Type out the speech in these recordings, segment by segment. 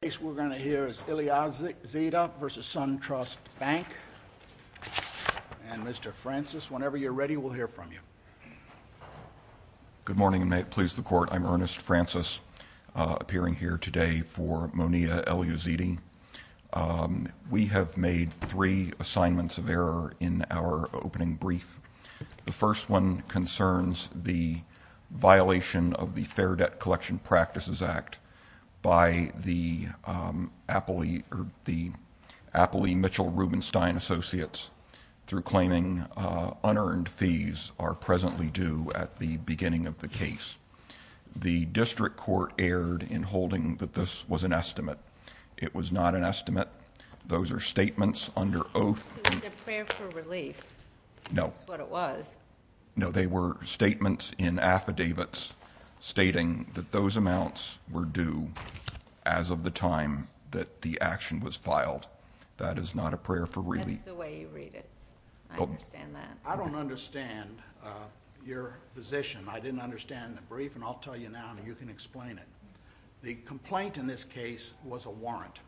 The case we're going to hear is Elyazidi v. SunTrust Bank. And Mr. Francis, whenever you're ready, we'll hear from you. Good morning, and may it please the Court. I'm Ernest Francis, appearing here today for Mounia Elyazidi. We have made three assignments of error in our opening brief. The first one concerns the violation of the Fair Debt Collection Practices Act by the Appley Mitchell Rubenstein Associates through claiming unearned fees are presently due at the beginning of the case. The district court erred in holding that this was an estimate. It was not an estimate. Those are statements under oath. It was a prayer for relief. No. That's what it was. No, they were statements in affidavits stating that those amounts were due as of the time that the action was filed. That is not a prayer for relief. That's the way you read it. I understand that. I don't understand your position. I didn't understand the brief, and I'll tell you now, and you can explain it. The complaint in this case was a warrant.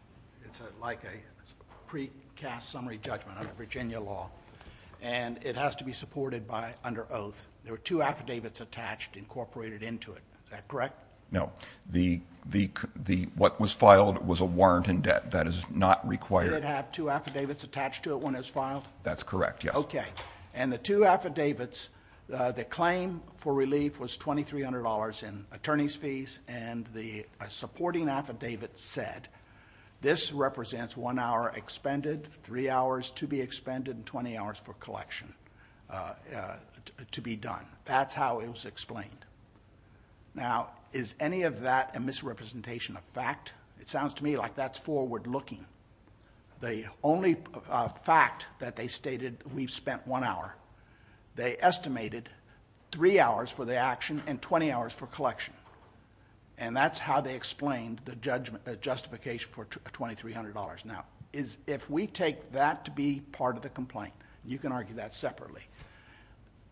It's like a precast summary judgment under Virginia law, and it has to be supported under oath. There were two affidavits attached incorporated into it. Is that correct? No. What was filed was a warrant in debt. That is not required. Did it have two affidavits attached to it when it was filed? That's correct, yes. Okay. And the two affidavits, the claim for relief was $2,300 in attorney's fees, and the supporting affidavit said this represents one hour expended, three hours to be expended, and 20 hours for collection to be done. That's how it was explained. Now, is any of that a misrepresentation of fact? It sounds to me like that's forward-looking. The only fact that they stated, we've spent one hour, they estimated three hours for the action and 20 hours for collection, and that's how they explained the justification for $2,300. Now, if we take that to be part of the complaint, you can argue that separately,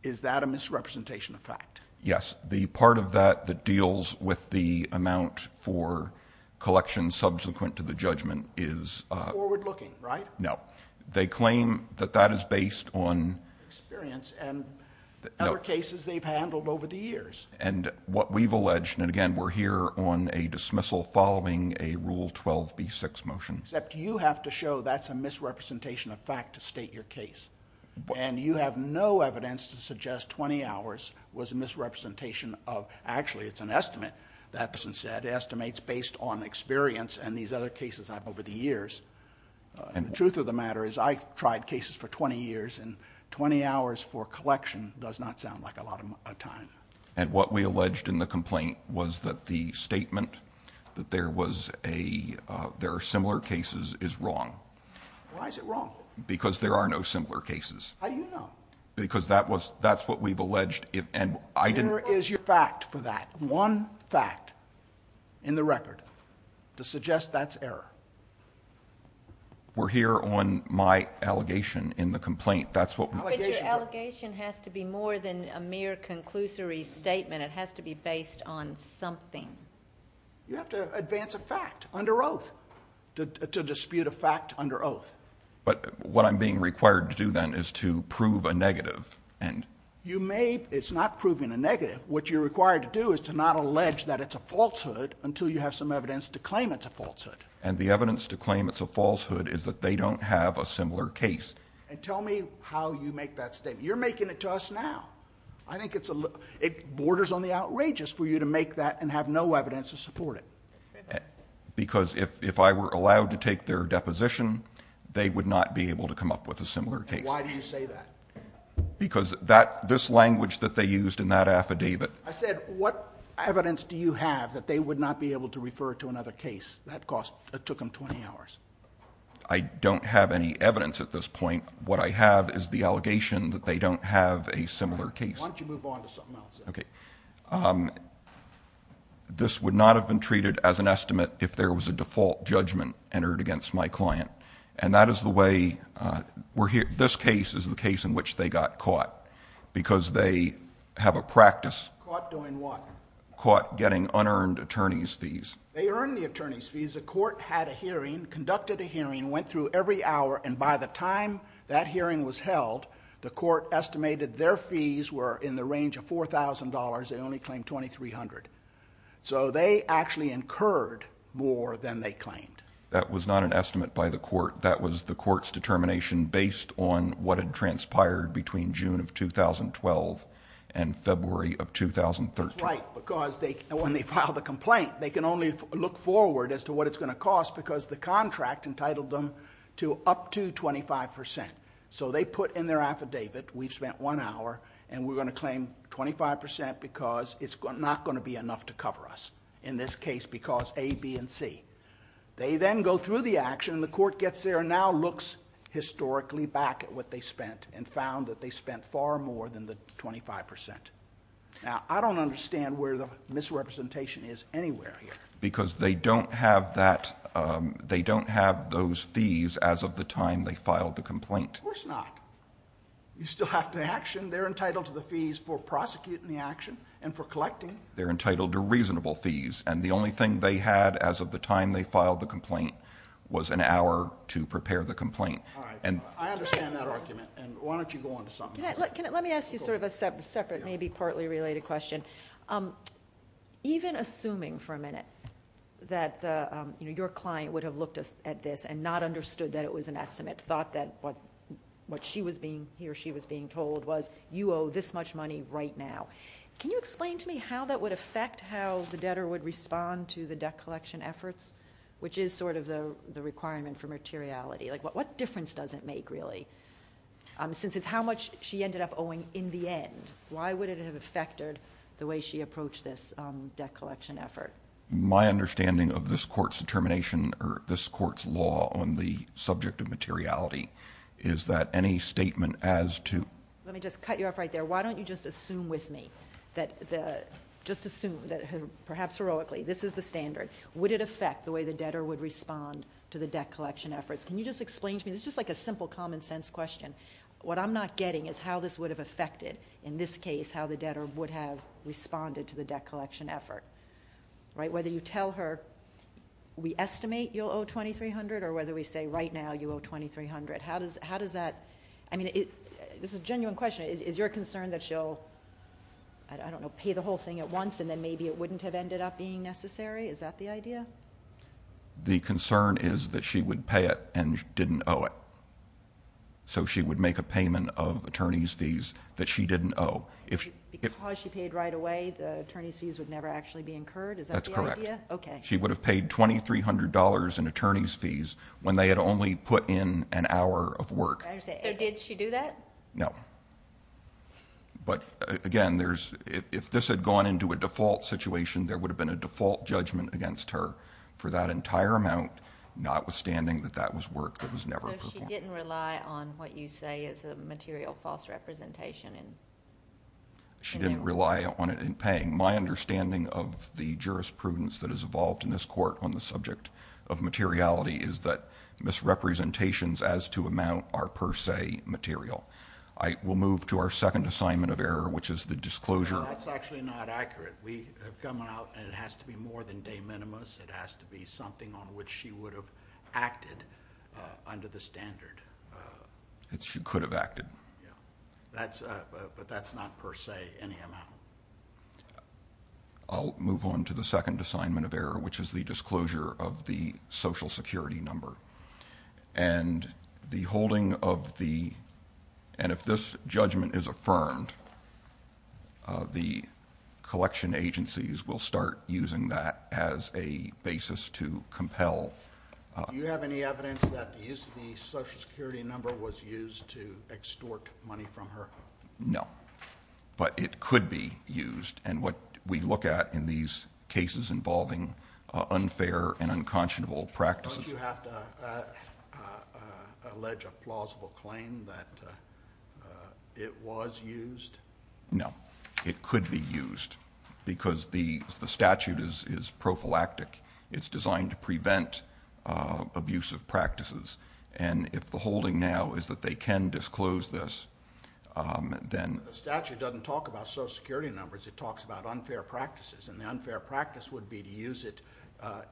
is that a misrepresentation of fact? Yes. The part of that that deals with the amount for collection subsequent to the judgment is... Forward-looking, right? No. They claim that that is based on... Experience and other cases they've handled over the years. And what we've alleged, and again, we're here on a dismissal following a Rule 12b-6 motion... Except you have to show that's a misrepresentation of fact to state your case. And you have no evidence to suggest 20 hours was a misrepresentation of... Actually, it's an estimate, that person said, estimates based on experience and these other cases I've had over the years. The truth of the matter is I tried cases for 20 years, and 20 hours for collection does not sound like a lot of time. And what we alleged in the complaint was that the statement that there are similar cases is wrong. Why is it wrong? Because there are no similar cases. How do you know? Because that's what we've alleged, and I didn't... Where is your fact for that? One fact in the record to suggest that's error? That's what my allegations are. But your allegation has to be more than a mere conclusory statement. It has to be based on something. You have to advance a fact under oath to dispute a fact under oath. But what I'm being required to do then is to prove a negative. You may... It's not proving a negative. What you're required to do is to not allege that it's a falsehood until you have some evidence to claim it's a falsehood. And the evidence to claim it's a falsehood is that they don't have a similar case. And tell me how you make that statement. You're making it to us now. I think it borders on the outrageous for you to make that and have no evidence to support it. Because if I were allowed to take their deposition, they would not be able to come up with a similar case. And why do you say that? Because this language that they used in that affidavit... I said what evidence do you have that they would not be able to refer to another case? That cost... It took them 20 hours. I don't have any evidence at this point. What I have is the allegation that they don't have a similar case. Why don't you move on to something else? Okay. This would not have been treated as an estimate if there was a default judgment entered against my client. And that is the way... This case is the case in which they got caught. Because they have a practice... Caught doing what? Caught getting unearned attorney's fees. They earned the attorney's fees. The court had a hearing, conducted a hearing, went through every hour. And by the time that hearing was held, the court estimated their fees were in the range of $4,000. They only claimed $2,300. So they actually incurred more than they claimed. That was not an estimate by the court. That was the court's determination based on what had transpired between June of 2012 and February of 2013. That's right. When they file the complaint, they can only look forward as to what it's going to cost because the contract entitled them to up to 25%. So they put in their affidavit, we've spent one hour and we're going to claim 25% because it's not going to be enough to cover us. In this case, because A, B, and C. They then go through the action. The court gets there and now looks historically back at what they spent and found that they spent far more than the 25%. Now, I don't understand where the misrepresentation is anywhere here. Because they don't have those fees as of the time they filed the complaint. Of course not. You still have the action. They're entitled to the fees for prosecuting the action and for collecting. They're entitled to reasonable fees. And the only thing they had as of the time they filed the complaint was an hour to prepare the complaint. I understand that argument. Why don't you go on to something else? Let me ask you sort of a separate, maybe partly related question. Even assuming for a minute that your client would have looked at this and not understood that it was an estimate, thought that what he or she was being told was you owe this much money right now. Can you explain to me how that would affect how the debtor would respond to the debt collection efforts? Which is sort of the requirement for materiality. What difference does it make really? Since it's how much she ended up owing in the end, why would it have affected the way she approached this debt collection effort? My understanding of this Court's determination, or this Court's law on the subject of materiality, is that any statement as to- Let me just cut you off right there. Why don't you just assume with me, just assume, perhaps heroically, this is the standard. Would it affect the way the debtor would respond to the debt collection efforts? Can you just explain to me? This is just like a simple common sense question. What I'm not getting is how this would have affected, in this case, how the debtor would have responded to the debt collection effort. Whether you tell her we estimate you'll owe $2,300, or whether we say right now you owe $2,300, how does that- I mean, this is a genuine question. Is your concern that she'll, I don't know, pay the whole thing at once, and then maybe it wouldn't have ended up being necessary? Is that the idea? The concern is that she would pay it and didn't owe it. So she would make a payment of attorney's fees that she didn't owe. Because she paid right away, the attorney's fees would never actually be incurred? Is that the idea? That's correct. Okay. She would have paid $2,300 in attorney's fees when they had only put in an hour of work. I understand. So did she do that? No. But, again, if this had gone into a default situation, there would have been a default judgment against her for that entire amount, notwithstanding that that was work that was never performed. So she didn't rely on what you say is a material false representation? She didn't rely on it in paying. My understanding of the jurisprudence that has evolved in this court on the subject of materiality is that misrepresentations as to amount are per se material. I will move to our second assignment of error, which is the disclosure- That's actually not accurate. We have come out and it has to be more than de minimis. It has to be something on which she would have acted under the standard. She could have acted. Yeah. But that's not per se any amount. I'll move on to the second assignment of error, which is the disclosure of the Social Security number. And if this judgment is affirmed, the collection agencies will start using that as a basis to compel- Do you have any evidence that the use of the Social Security number was used to extort money from her? No, but it could be used. And what we look at in these cases involving unfair and unconscionable practices- Don't you have to allege a plausible claim that it was used? No. It could be used because the statute is prophylactic. It's designed to prevent abusive practices. And if the holding now is that they can disclose this, then- The statute doesn't talk about Social Security numbers. It talks about unfair practices. And the unfair practice would be to use it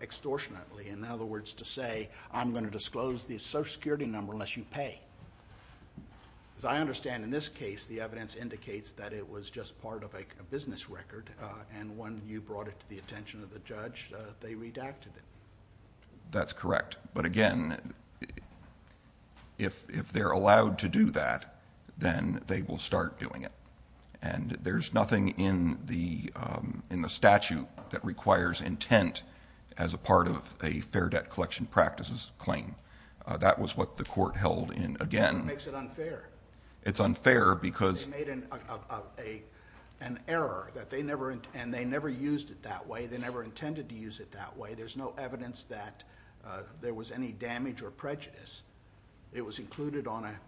extortionately. In other words, to say, I'm going to disclose the Social Security number unless you pay. As I understand, in this case, the evidence indicates that it was just part of a business record, and when you brought it to the attention of the judge, they redacted it. That's correct. But again, if they're allowed to do that, then they will start doing it. And there's nothing in the statute that requires intent as a part of a fair debt collection practices claim. That was what the court held in, again- That makes it unfair. It's unfair because- They made an error, and they never used it that way. They never intended to use it that way. There's no evidence that there was any damage or prejudice. It was included on a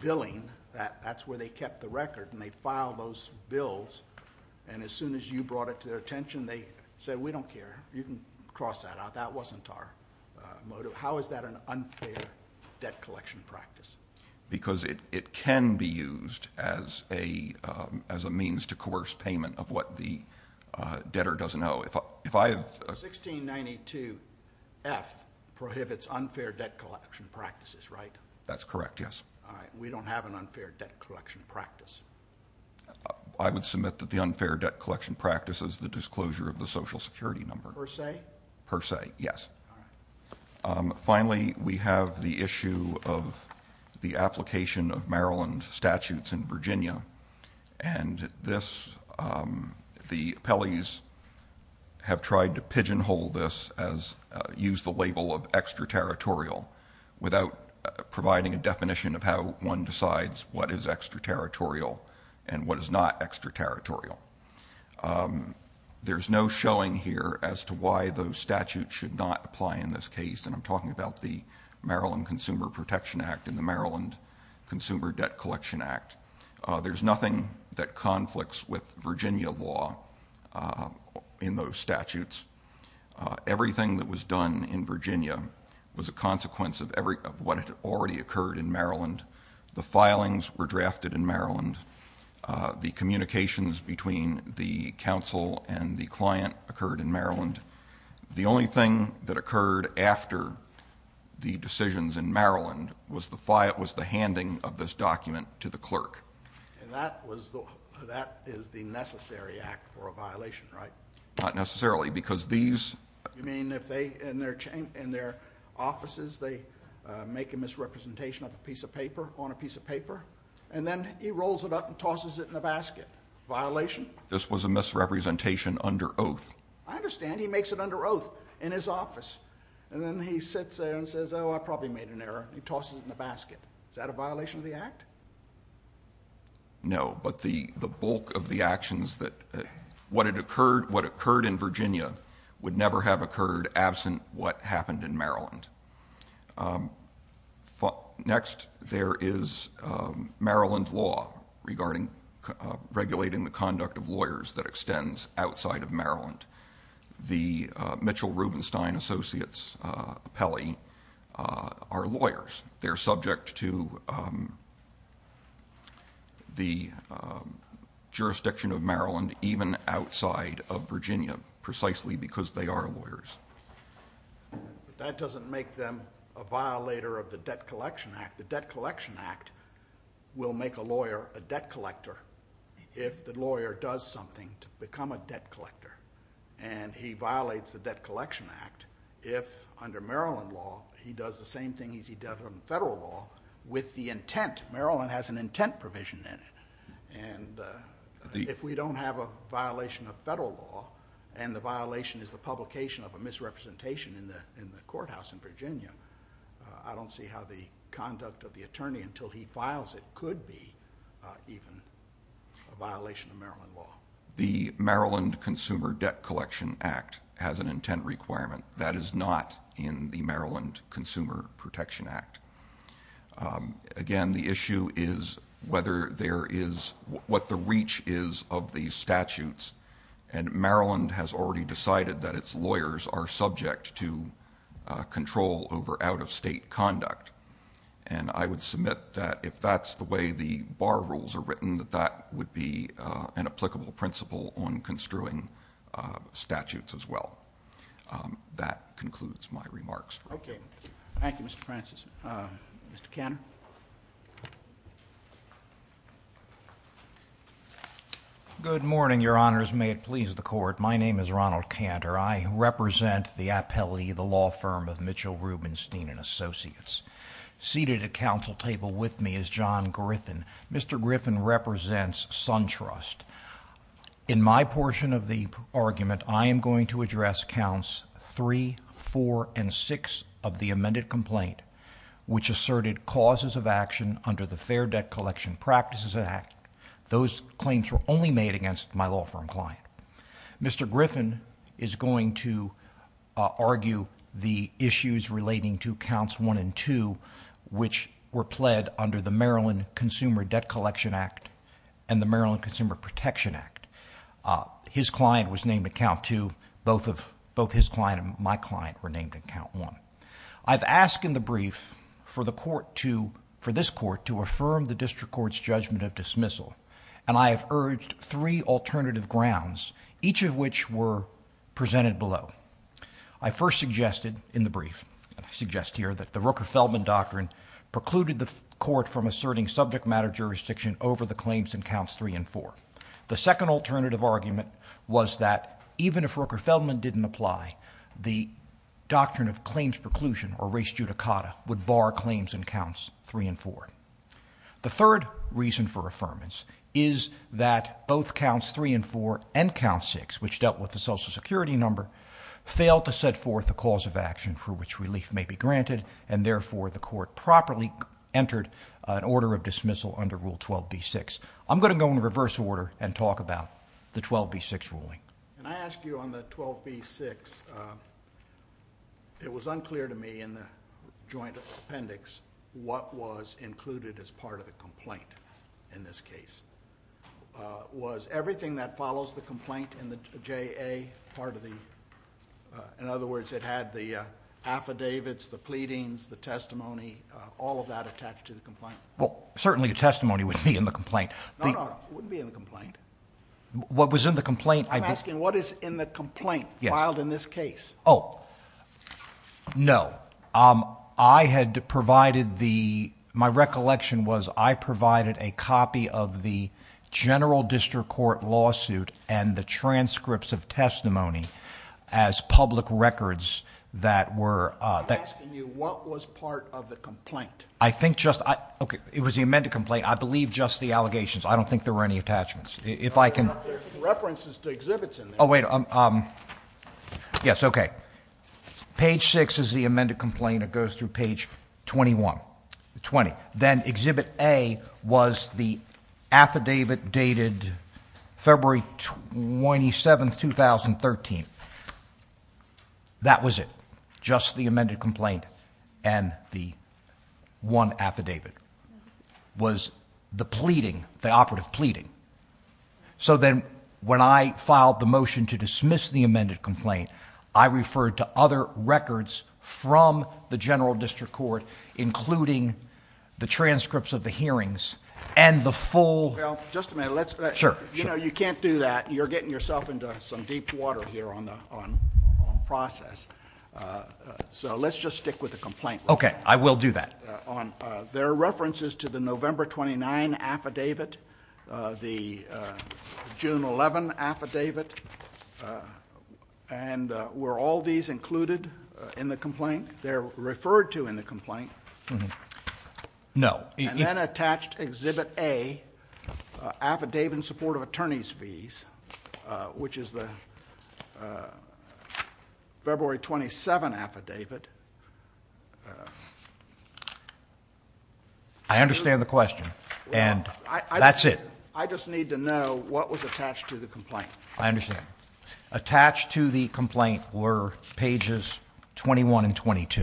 billing. That's where they kept the record, and they filed those bills. And as soon as you brought it to their attention, they said, we don't care. You can cross that out. That wasn't our motive. How is that an unfair debt collection practice? Because it can be used as a means to coerce payment of what the debtor doesn't owe. 1692F prohibits unfair debt collection practices, right? That's correct, yes. All right. We don't have an unfair debt collection practice. I would submit that the unfair debt collection practice is the disclosure of the Social Security number. Per se? Per se, yes. All right. Finally, we have the issue of the application of Maryland statutes in Virginia. And the appellees have tried to pigeonhole this as use the label of extraterritorial without providing a definition of how one decides what is extraterritorial and what is not extraterritorial. There's no showing here as to why those statutes should not apply in this case, and I'm talking about the Maryland Consumer Protection Act and the Maryland Consumer Debt Collection Act. There's nothing that conflicts with Virginia law in those statutes. Everything that was done in Virginia was a consequence of what had already occurred in Maryland. The filings were drafted in Maryland. The communications between the counsel and the client occurred in Maryland. And the only thing that occurred after the decisions in Maryland was the handing of this document to the clerk. And that is the necessary act for a violation, right? Not necessarily, because these— You mean if they, in their offices, they make a misrepresentation of a piece of paper on a piece of paper, and then he rolls it up and tosses it in a basket? Violation? This was a misrepresentation under oath. I understand. He makes it under oath in his office. And then he sits there and says, oh, I probably made an error. He tosses it in the basket. Is that a violation of the act? No, but the bulk of the actions that— What occurred in Virginia would never have occurred absent what happened in Maryland. Next, there is Maryland law regulating the conduct of lawyers that extends outside of Maryland. The Mitchell Rubenstein Associates appellee are lawyers. They're subject to the jurisdiction of Maryland, even outside of Virginia, precisely because they are lawyers. But that doesn't make them a violator of the Debt Collection Act. The Debt Collection Act will make a lawyer a debt collector if the lawyer does something to become a debt collector. And he violates the Debt Collection Act if, under Maryland law, he does the same thing as he does under federal law with the intent. Maryland has an intent provision in it. If we don't have a violation of federal law and the violation is the publication of a misrepresentation in the courthouse in Virginia, I don't see how the conduct of the attorney until he files it could be even a violation of Maryland law. The Maryland Consumer Debt Collection Act has an intent requirement. That is not in the Maryland Consumer Protection Act. Again, the issue is what the reach is of these statutes, and Maryland has already decided that its lawyers are subject to control over out-of-state conduct. And I would submit that if that's the way the bar rules are written, that that would be an applicable principle on construing statutes as well. That concludes my remarks. Okay. Thank you, Mr. Francis. Mr. Cantor? Good morning, Your Honors. May it please the Court, my name is Ronald Cantor. I represent the appellee, the law firm of Mitchell, Rubenstein & Associates. Seated at counsel table with me is John Griffin. Mr. Griffin represents SunTrust. In my portion of the argument, I am going to address counts 3, 4, and 6 of the amended complaint, which asserted causes of action under the Fair Debt Collection Practices Act. Those claims were only made against my law firm client. Mr. Griffin is going to argue the issues relating to counts 1 and 2, which were pled under the Maryland Consumer Debt Collection Act and the Maryland Consumer Protection Act. His client was named at count 2. Both his client and my client were named at count 1. I've asked in the brief for this court to affirm the district court's judgment of dismissal, and I have urged three alternative grounds, each of which were presented below. I first suggested in the brief, and I suggest here, that the Rooker-Feldman Doctrine precluded the court from asserting subject matter jurisdiction over the claims in counts 3 and 4. The second alternative argument was that even if Rooker-Feldman didn't apply, the doctrine of claims preclusion, or res judicata, would bar claims in counts 3 and 4. The third reason for affirmance is that both counts 3 and 4 and count 6, which dealt with the Social Security number, failed to set forth a cause of action for which relief may be granted, and therefore the court properly entered an order of dismissal under Rule 12b-6. I'm going to go in reverse order and talk about the 12b-6 ruling. Can I ask you on the 12b-6? It was unclear to me in the joint appendix what was included as part of the complaint in this case. Was everything that follows the complaint in the JA part of the... In other words, it had the affidavits, the pleadings, the testimony, all of that attached to the complaint? Well, certainly the testimony would be in the complaint. No, no, it wouldn't be in the complaint. What was in the complaint... I'm asking what is in the complaint filed in this case? Oh, no. I had provided the... My recollection was I provided a copy of the general district court lawsuit and the transcripts of testimony as public records that were... I'm asking you what was part of the complaint. I think just... Okay. It was the amended complaint. I believe just the allegations. I don't think there were any attachments. If I can... There are references to exhibits in there. Oh, wait. Yes, okay. Page 6 is the amended complaint. It goes through page 21... 20. Then exhibit A was the affidavit dated February 27, 2013. That was it. Just the amended complaint and the one affidavit was the pleading, the operative pleading. Then when I filed the motion to dismiss the amended complaint, I referred to other records from the general district court including the transcripts of the hearings and the full... Well, just a minute. Let's... Sure. You can't do that. You're getting yourself into some deep water here on process. Let's just stick with the complaint. Okay. I will do that. There are references to the November 29 affidavit, the June 11 affidavit. Were all these included in the complaint? They're referred to in the complaint. No. And then attached exhibit A, affidavit in support of attorney's fees, which is the February 27 affidavit. I understand the question and that's it. I just need to know what was attached to the complaint. I understand. Attached to the complaint were pages 21 and 22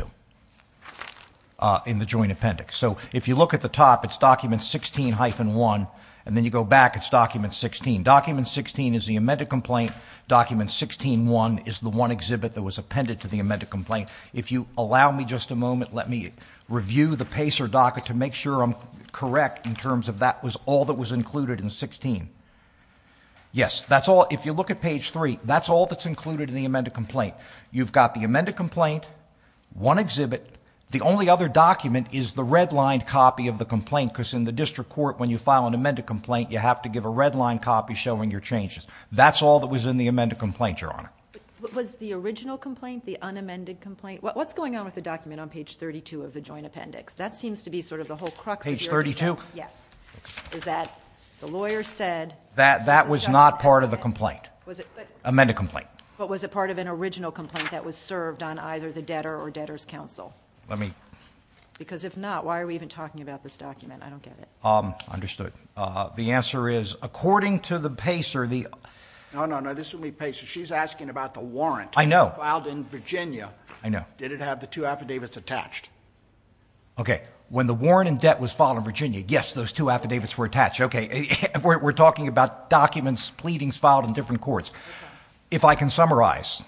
in the joint appendix. So, if you look at the top, it's document 16-1. And then you go back, it's document 16. Document 16 is the amended complaint. Document 16-1 is the one exhibit that was appended to the amended complaint. If you allow me just a moment, let me review the PACER docket to make sure I'm correct in terms of that was all that was included in 16. Yes, that's all. If you look at page 3, that's all that's included in the amended complaint. You've got the amended complaint, one exhibit. The only other document is the redlined copy of the complaint because in the district court, when you file an amended complaint, you have to give a redlined copy showing your changes. That's all that was in the amended complaint, Your Honor. Was the original complaint the unamended complaint? What's going on with the document on page 32 of the joint appendix? That seems to be sort of the whole crux of the argument. Page 32? Yes. Is that the lawyer said... That was not part of the complaint. Amended complaint. But was it part of an original complaint that was served on either the debtor or debtor's counsel? Let me... Because if not, why are we even talking about this document? I don't get it. Understood. The answer is, according to the PACER, the... No, no, no. This would be PACER. She's asking about the warrant. I know. Filed in Virginia. I know. Did it have the two affidavits attached? Okay. When the warrant and debt was filed in Virginia, yes, those two affidavits were attached. Okay. We're talking about documents, pleadings filed in different courts. If I can summarize,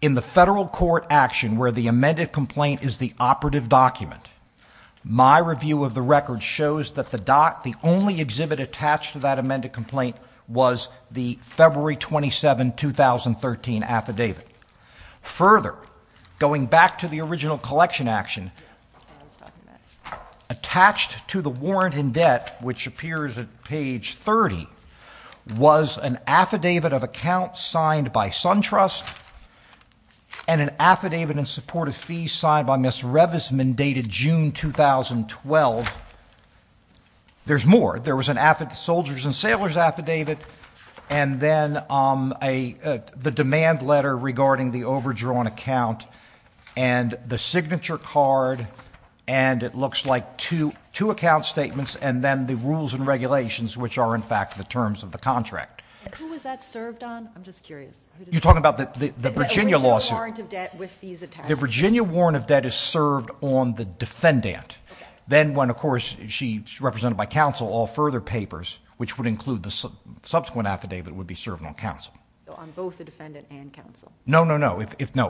in the federal court action where the amended complaint is the operative document, my review of the record shows that the only exhibit attached to that amended complaint was the February 27, 2013, affidavit. Further, going back to the original collection action, attached to the warrant and debt, which appears at page 30, was an affidavit of account signed by SunTrust and an affidavit in support of fees signed by Ms. Revisman dated June 2012. There's more. There was a Soldiers and Sailors affidavit, and then the demand letter regarding the overdrawn account, and the signature card, and it looks like two account statements, and then the rules and regulations, which are, in fact, the terms of the contract. Who was that served on? I'm just curious. You're talking about the Virginia lawsuit? The Virginia warrant of debt with fees attached. The Virginia warrant of debt is served on the defendant. Then when, of course, she's represented by counsel, all further papers, which would include the subsequent affidavit, would be served on counsel. So on both the defendant and counsel? No, no, no.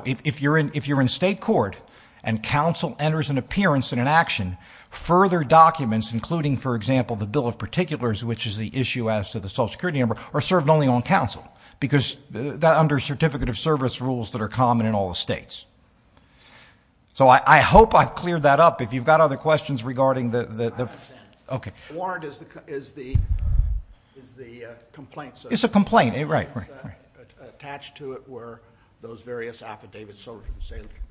If you're in state court and counsel enters an appearance in an action, further documents, including, for example, the Bill of Particulars, which is the issue as to the Social Security number, are served only on counsel because they're under Certificate of Service rules that are common in all the states. So I hope I've cleared that up. If you've got other questions regarding the... I understand. Okay. The warrant is the complaint, so... It's a complaint, right. Attached to it were those various affidavits,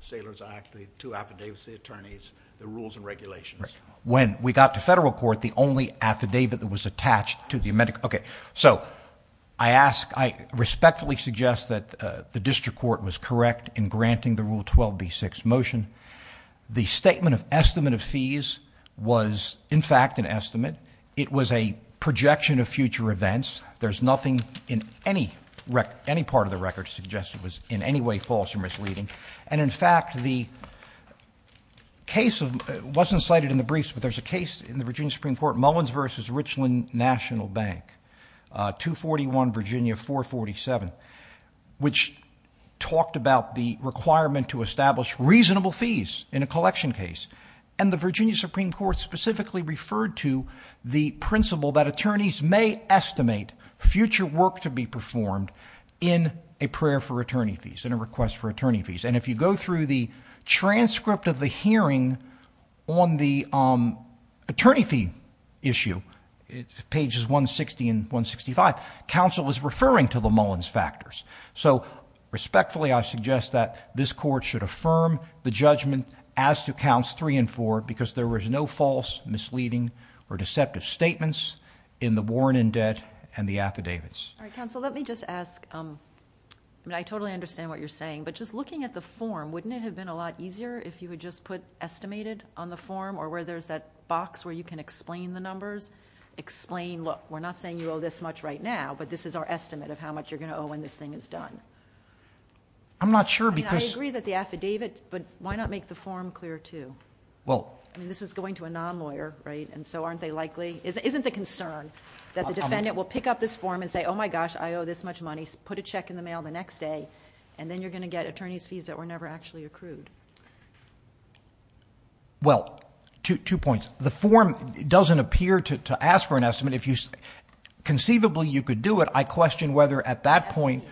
Sailor's Act, the two affidavits, the attorneys, the rules and regulations. When we got to federal court, the only affidavit that was attached to the... The Statement of Estimate of Fees was, in fact, an estimate. It was a projection of future events. There's nothing in any part of the record to suggest it was in any way false or misleading. And, in fact, the case of... It wasn't cited in the briefs, but there's a case in the Virginia Supreme Court, Mullins v. Richland National Bank, 241 Virginia 447, which talked about the requirement to establish reasonable fees in a collection case. And the Virginia Supreme Court specifically referred to the principle that attorneys may estimate future work to be performed in a prayer for attorney fees, in a request for attorney fees. And if you go through the transcript of the hearing on the attorney fee issue, it's pages 160 and 165, counsel is referring to the Mullins factors. So, respectfully, I suggest that this court should affirm the judgment as to counts three and four, because there was no false, misleading, or deceptive statements in the Warren indebt and the affidavits. All right, counsel, let me just ask... I mean, I totally understand what you're saying, but just looking at the form, wouldn't it have been a lot easier if you had just put estimated on the form, or where there's that box where you can explain the numbers? Explain, look, we're not saying you owe this much right now, but this is our estimate of how much you're going to owe when this thing is done. I'm not sure because... I mean, I agree that the affidavit, but why not make the form clear, too? Well... I mean, this is going to a non-lawyer, right, and so aren't they likely... Isn't the concern that the defendant will pick up this form and say, oh my gosh, I owe this much money, put a check in the mail the next day, and then you're going to get attorney's fees that were never actually accrued? Well, two points. The form doesn't appear to ask for an estimate. If you... conceivably, you could do it. I question whether at that point...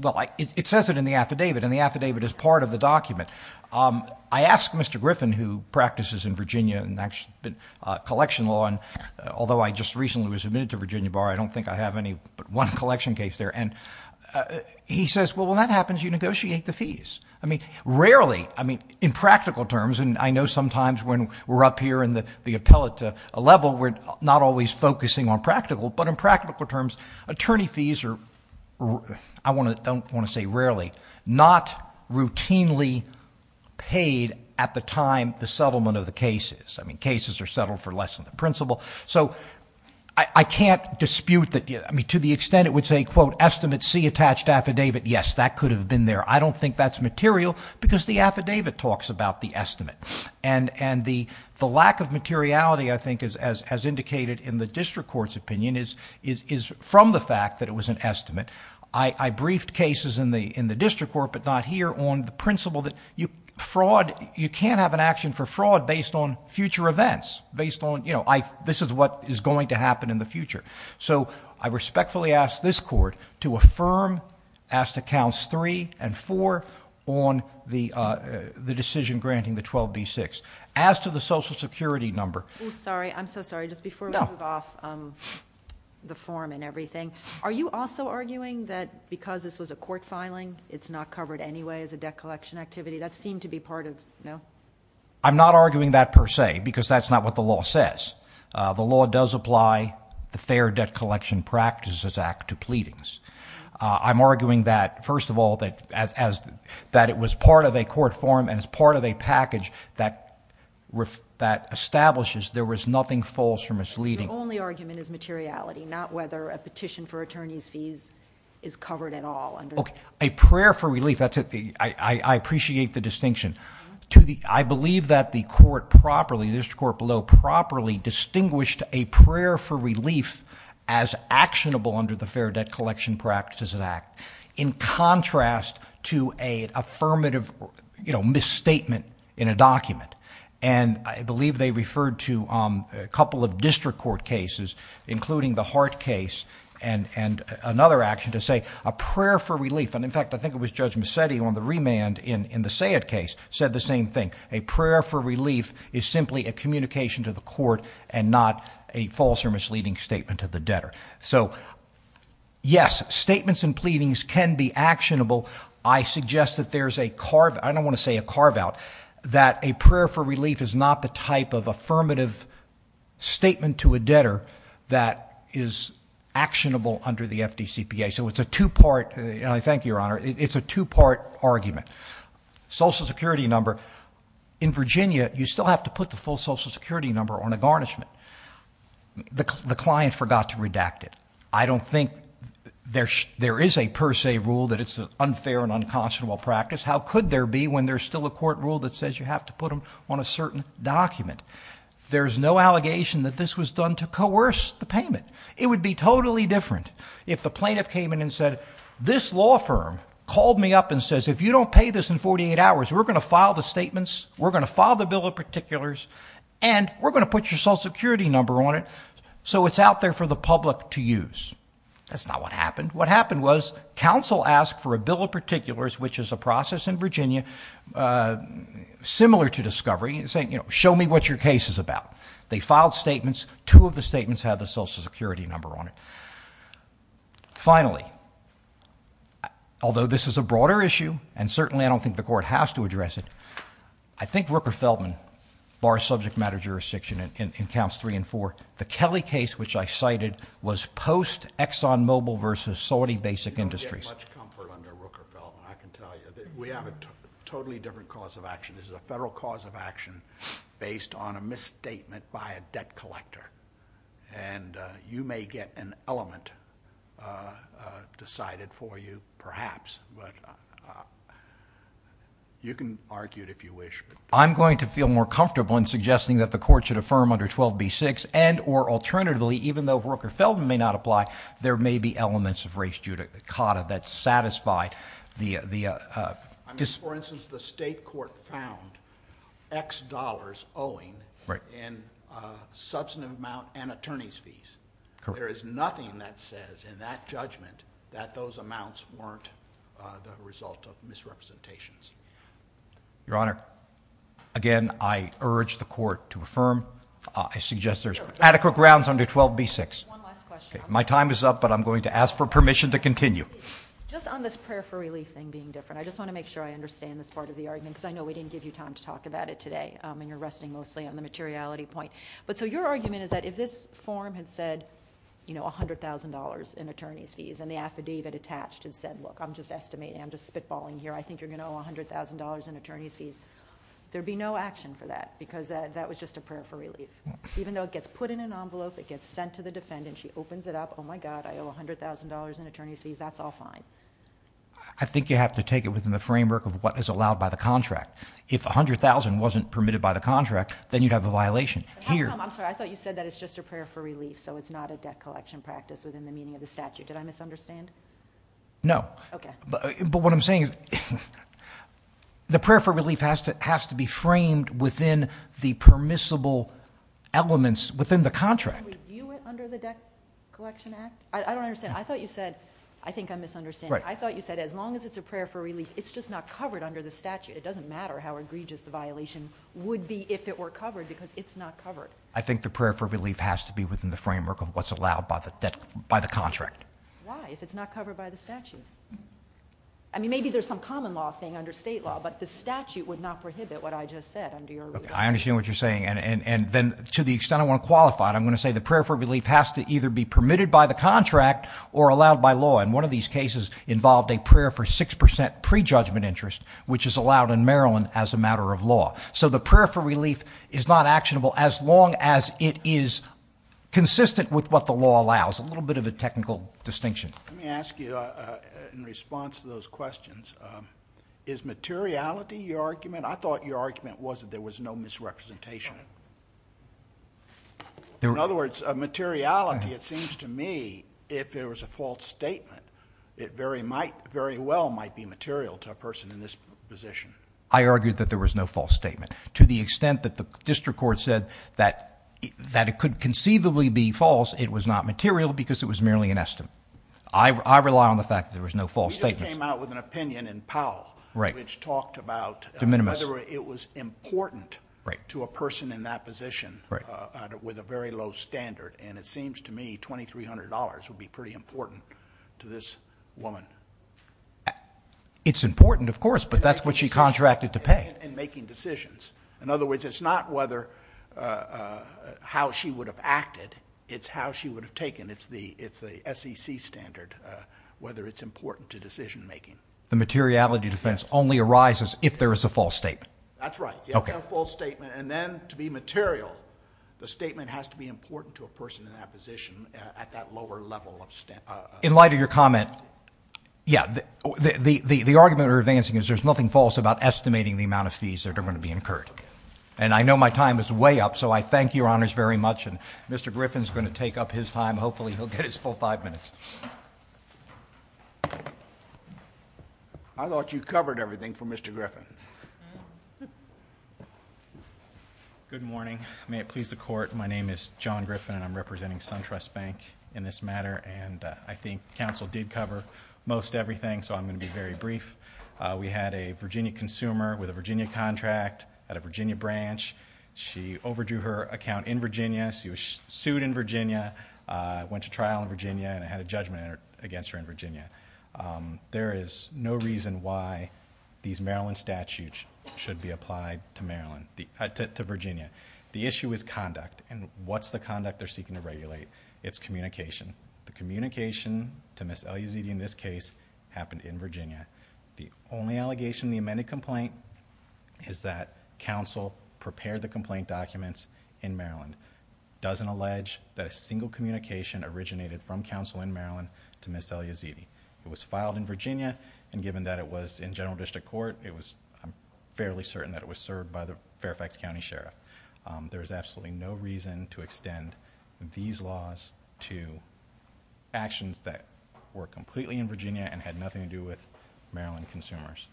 Well, it says it in the affidavit, and the affidavit is part of the document. I asked Mr. Griffin, who practices in Virginia in collection law, and although I just recently was admitted to Virginia Bar, I don't think I have any but one collection case there, and he says, well, when that happens, you negotiate the fees. I mean, rarely, I mean, in practical terms, and I know sometimes when we're up here in the appellate level, we're not always focusing on practical, but in practical terms, attorney fees are, I don't want to say rarely, not routinely paid at the time the settlement of the case is. I mean, cases are settled for less than the principal, so I can't dispute that... I mean, to the extent it would say, quote, estimate C attached affidavit, yes, that could have been there. I don't think that's material, because the affidavit talks about the estimate, and the lack of materiality, I think, as indicated in the district court's opinion, is from the fact that it was an estimate. I briefed cases in the district court, but not here, on the principle that you can't have an action for fraud based on future events, based on, you know, this is what is going to happen in the future. So, I respectfully ask this court to affirm as to counts 3 and 4 on the decision granting the 12B6. As to the Social Security number... Oh, sorry. I'm so sorry. Just before we move off the form and everything, are you also arguing that because this was a court filing, it's not covered anyway as a debt collection activity? That seemed to be part of... no? I'm not arguing that per se, because that's not what the law says. The law does apply the Fair Debt Collection Practices Act to pleadings. I'm arguing that, first of all, that it was part of a court form, and it's part of a package that establishes there was nothing false or misleading. Your only argument is materiality, not whether a petition for attorney's fees is covered at all under... Okay. A prayer for relief, that's it. I appreciate the distinction. I believe that the court properly, the district court below, properly distinguished a prayer for relief as actionable under the Fair Debt Collection Practices Act, in contrast to an affirmative misstatement in a document. And, I believe they referred to a couple of district court cases, including the Hart case and another action to say a prayer for relief. And, in fact, I think it was Judge Massetti on the remand in the Sayed case said the same thing. A prayer for relief is simply a communication to the court and not a false or misleading statement to the debtor. So, yes, statements and pleadings can be actionable. I suggest that there's a carve... I don't want to say a carve-out, that a prayer for relief is not the type of affirmative statement to a debtor that is actionable under the FDCPA. So, it's a two-part, and I thank you, Your Honor, it's a two-part argument. Social Security number. In Virginia, you still have to put the full Social Security number on a garnishment. The client forgot to redact it. I don't think there is a per se rule that it's an unfair and unconscionable practice. How could there be when there's still a court rule that says you have to put them on a certain document? There's no allegation that this was done to coerce the payment. It would be totally different if the plaintiff came in and said, this law firm called me up and says, if you don't pay this in 48 hours, we're going to file the statements, we're going to file the bill of particulars, and we're going to put your Social Security number on it, so it's out there for the public to use. That's not what happened. What happened was, counsel asked for a bill of particulars, which is a process in Virginia similar to discovery, saying, you know, show me what your case is about. They filed statements. Two of the statements had the Social Security number on it. Finally, although this is a broader issue, and certainly I don't think the court has to address it, I think Rooker-Feldman bars subject matter jurisdiction in counts three and four. The Kelly case, which I cited, was post-ExxonMobil versus Saudi Basic Industries. You don't get much comfort under Rooker-Feldman, I can tell you. We have a totally different cause of action. This is a federal cause of action based on a misstatement by a debt collector, and you may get an element decided for you, perhaps, but you can argue it if you wish. I'm going to feel more comfortable in suggesting that the court should affirm under 12b-6, and or alternatively, even though Rooker-Feldman may not apply, there may be elements of race judicata that satisfy the dis- For instance, the state court found X dollars owing in substantive amount and attorney's fees. There is nothing that says in that judgment that those amounts weren't the result of misrepresentations. Your Honor, again, I urge the court to affirm. I suggest there's adequate grounds under 12b-6. One last question. My time is up, but I'm going to ask for permission to continue. Just on this prayer for relief thing being different, I just want to make sure I understand this part of the argument, because I know we didn't give you time to talk about it today, and you're resting mostly on the materiality point. Your argument is that if this form had said $100,000 in attorney's fees, and the affidavit attached had said, look, I'm just estimating, I'm just spitballing here, I think you're going to owe $100,000 in attorney's fees, there would be no action for that, because that was just a prayer for relief. Even though it gets put in an envelope, it gets sent to the defendant, she opens it up, oh, my God, I owe $100,000 in attorney's fees, that's all fine. I think you have to take it within the framework of what is allowed by the contract. If $100,000 wasn't permitted by the contract, then you'd have a violation. I'm sorry, I thought you said that it's just a prayer for relief, so it's not a debt collection practice within the meaning of the statute. Did I misunderstand? No. Okay. But what I'm saying is the prayer for relief has to be framed within the permissible elements within the contract. Can we view it under the Debt Collection Act? I don't understand. I thought you said, I think I'm misunderstanding. I thought you said as long as it's a prayer for relief, it's just not covered under the statute. It doesn't matter how egregious the violation would be if it were covered, because it's not covered. I think the prayer for relief has to be within the framework of what's allowed by the contract. Why, if it's not covered by the statute? I mean, maybe there's some common law thing under state law, but the statute would not prohibit what I just said under your ruling. I understand what you're saying. And then to the extent I want to qualify it, I'm going to say the prayer for relief has to either be permitted by the contract or allowed by law, and one of these cases involved a prayer for 6% prejudgment interest, which is allowed in Maryland as a matter of law. So the prayer for relief is not actionable as long as it is consistent with what the law allows, a little bit of a technical distinction. Let me ask you in response to those questions, is materiality your argument? I thought your argument was that there was no misrepresentation. In other words, materiality, it seems to me, if there was a false statement, it very well might be material to a person in this position. I argued that there was no false statement. To the extent that the district court said that it could conceivably be false, it was not material because it was merely an estimate. I rely on the fact that there was no false statement. I just came out with an opinion in Powell which talked about whether it was important to a person in that position with a very low standard, and it seems to me $2,300 would be pretty important to this woman. It's important, of course, but that's what she contracted to pay. In making decisions. In other words, it's not how she would have acted, it's how she would have taken. It's the SEC standard, whether it's important to decision making. The materiality defense only arises if there is a false statement. That's right. You don't have a false statement, and then to be material, the statement has to be important to a person in that position at that lower level of standard. In light of your comment, yeah, the argument we're advancing is there's nothing false about estimating the amount of fees that are going to be incurred, and I know my time is way up, so I thank your honors very much, and Mr. Griffin is going to take up his time. Hopefully he'll get his full five minutes. I thought you covered everything for Mr. Griffin. Good morning. May it please the Court, my name is John Griffin, and I'm representing SunTrust Bank in this matter, and I think counsel did cover most everything, so I'm going to be very brief. We had a Virginia consumer with a Virginia contract at a Virginia branch. She overdrew her account in Virginia. She was sued in Virginia, went to trial in Virginia, and had a judgment against her in Virginia. There is no reason why these Maryland statutes should be applied to Virginia. The issue is conduct, and what's the conduct they're seeking to regulate? It's communication. The communication to Ms. Eliazidi in this case happened in Virginia. The only allegation in the amended complaint is that counsel prepared the complaint documents in Maryland. It doesn't allege that a single communication originated from counsel in Maryland to Ms. Eliazidi. It was filed in Virginia, and given that it was in general district court, I'm fairly certain that it was served by the Fairfax County Sheriff. There is absolutely no reason to extend these laws to actions that were completely in Virginia and had nothing to do with Maryland consumers.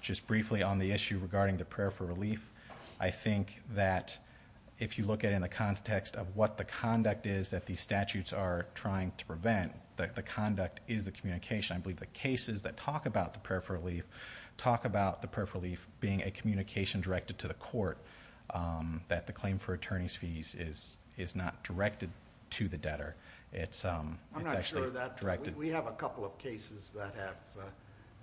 Just briefly on the issue regarding the prayer for relief, I think that if you look at it in the context of what the conduct is that these statutes are trying to prevent, the conduct is the communication. I believe the cases that talk about the prayer for relief talk about the prayer for relief being a communication directed to the court that the claim for attorney's fees is not directed to the debtor. I'm not sure of that. We have a couple of cases that have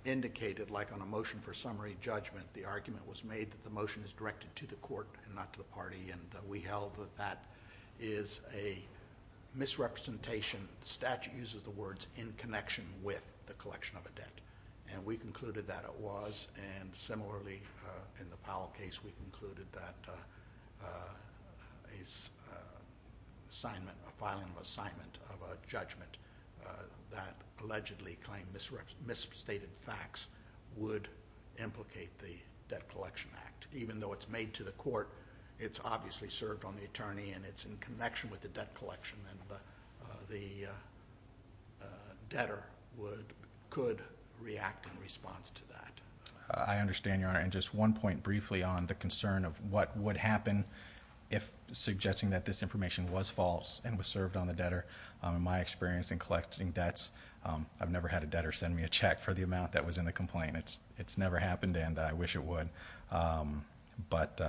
indicated, like on a motion for summary judgment, the argument was made that the motion is directed to the court and not to the party. We held that that is a misrepresentation. The statute uses the words, in connection with the collection of a debt. We concluded that it was. Similarly, in the Powell case, we concluded that a filing of assignment of a judgment that allegedly claimed misstated facts would implicate the Debt Collection Act. Even though it's made to the court, it's obviously served on the attorney, and it's in connection with the debt collection, and the debtor could react in response to that. I understand, Your Honor. Just one point briefly on the concern of what would happen if suggesting that this information was false and was served on the debtor. In my experience in collecting debts, I've never had a debtor send me a check for the amount that was in the complaint. It's never happened, and I wish it would. But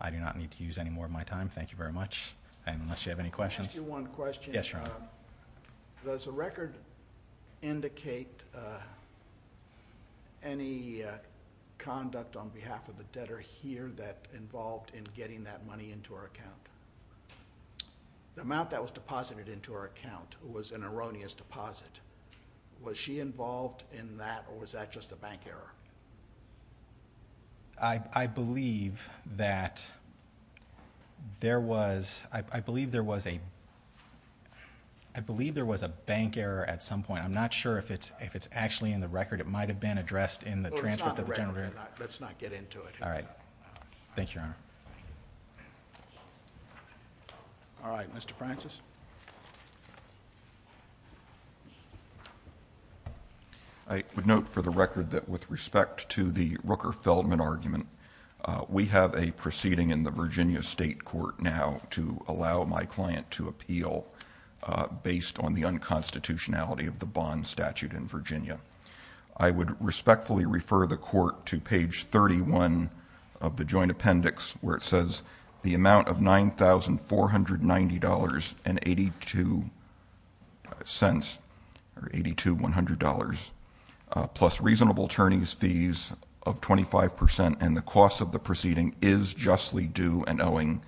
I do not need to use any more of my time. Thank you very much. Unless you have any questions. Let me ask you one question. Yes, Your Honor. Does the record indicate any conduct on behalf of the debtor here that involved in getting that money into her account? The amount that was deposited into her account was an erroneous deposit. Was she involved in that, or was that just a bank error? I believe that there was a bank error at some point. I'm not sure if it's actually in the record. It might have been addressed in the transfer to the general. Well, it's not in the record. Let's not get into it. All right. Thank you, Your Honor. All right. Mr. Francis. I would note for the record that with respect to the Rooker-Feldman argument, we have a proceeding in the Virginia State Court now to allow my client to appeal based on the unconstitutionality of the bond statute in Virginia. I would respectfully refer the court to page 31 of the joint appendix, where it says, the amount of $9,490.82 plus reasonable attorney's fees of 25%, and the cost of the proceeding is justly due and owing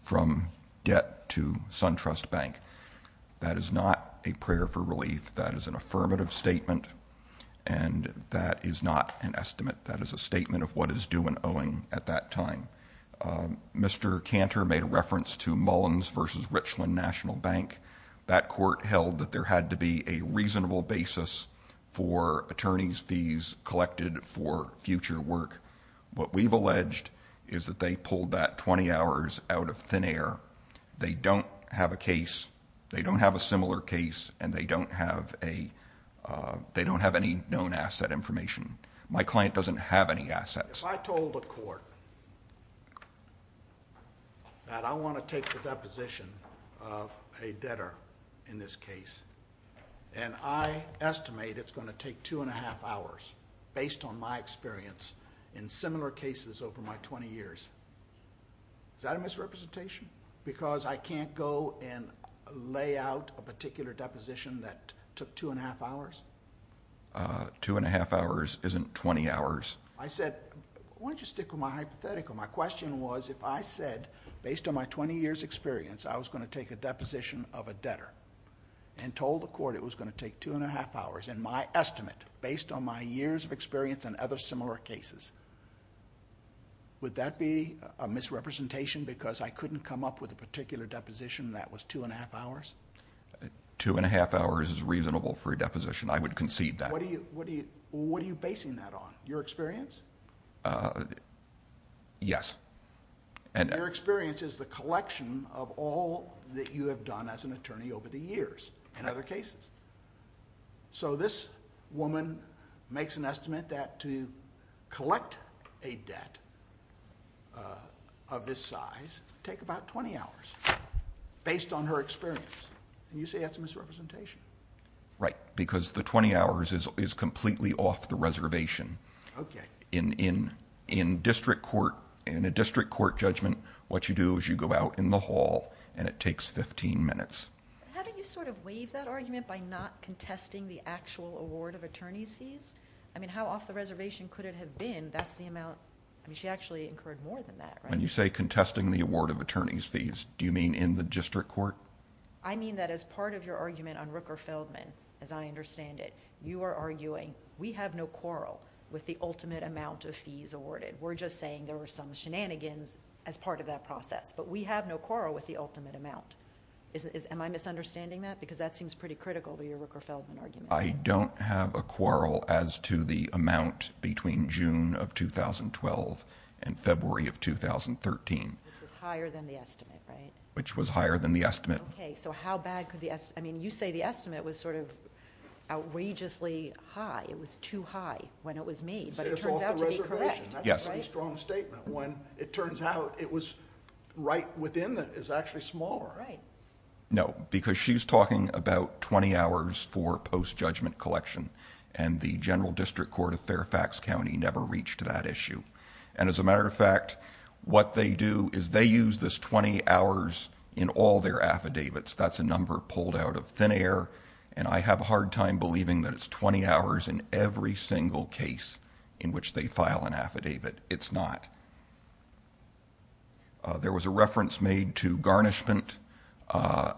from debt to SunTrust Bank. That is not a prayer for relief. That is an affirmative statement, and that is not an estimate. That is a statement of what is due and owing at that time. Mr. Cantor made a reference to Mullins v. Richland National Bank. That court held that there had to be a reasonable basis for attorney's fees collected for future work. What we've alleged is that they pulled that 20 hours out of thin air. They don't have a case. They don't have a similar case, and they don't have any known asset information. My client doesn't have any assets. If I told a court that I want to take the deposition of a debtor in this case, and I estimate it's going to take two and a half hours based on my experience in similar cases over my 20 years, is that a misrepresentation? Because I can't go and lay out a particular deposition that took two and a half hours? Two and a half hours isn't 20 hours. I said, why don't you stick with my hypothetical? My question was, if I said, based on my 20 years experience, I was going to take a deposition of a debtor, and told the court it was going to take two and a half hours in my estimate, based on my years of experience in other similar cases, would that be a misrepresentation because I couldn't come up with a particular deposition that was two and a half hours? Two and a half hours is reasonable for a deposition. I would concede that. What are you basing that on? Your experience? Yes. Your experience is the collection of all that you have done as an attorney over the years in other cases. This woman makes an estimate that to collect a debt of this size, take about 20 hours, based on her experience. You say that's a misrepresentation. Right, because the 20 hours is completely off the reservation. Okay. In a district court judgment, what you do is you go out in the hall and it takes 15 minutes. How do you sort of waive that argument by not contesting the actual award of attorney's fees? I mean, how off the reservation could it have been? That's the amount... I mean, she actually incurred more than that, right? When you say contesting the award of attorney's fees, do you mean in the district court? I mean that as part of your argument on Rooker Feldman, as I understand it, you are arguing we have no quarrel with the ultimate amount of fees awarded. We're just saying there were some shenanigans as part of that process, but we have no quarrel with the ultimate amount. Am I misunderstanding that? Because that seems pretty critical to your Rooker Feldman argument. I don't have a quarrel as to the amount between June of 2012 and February of 2013. Which was higher than the estimate, right? Which was higher than the estimate. Okay, so how bad could the... I mean, you say the estimate was sort of outrageously high. It was too high when it was made, but it turns out to be correct. It's off the reservation. Yes. That's a strong statement when it turns out it was right within that is actually smaller. Right. No, because she's talking about 20 hours for post-judgment collection, and the general district court of Fairfax County never reached that issue. And as a matter of fact, what they do is they use this 20 hours in all their affidavits. That's a number pulled out of thin air, and I have a hard time believing that it's 20 hours in every single case in which they file an affidavit. It's not. There was a reference made to garnishment,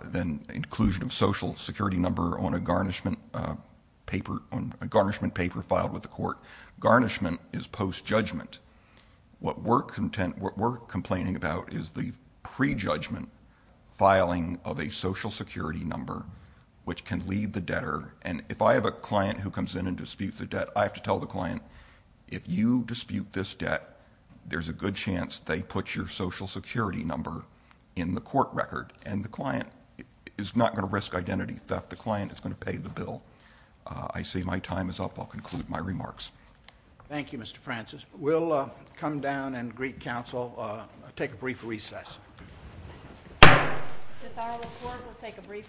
then inclusion of social security number on a garnishment paper filed with the court. Garnishment is post-judgment. What we're complaining about is the prejudgment filing of a social security number, which can lead the debtor. And if I have a client who comes in and disputes a debt, I have to tell the client, if you dispute this debt, there's a good chance they put your social security number in the court record, and the client is not going to risk identity theft. The client is going to pay the bill. I see my time is up. I'll conclude my remarks. Thank you, Mr. Francis. We'll come down and greet counsel. Take a brief recess. This is our report. We'll take a brief recess.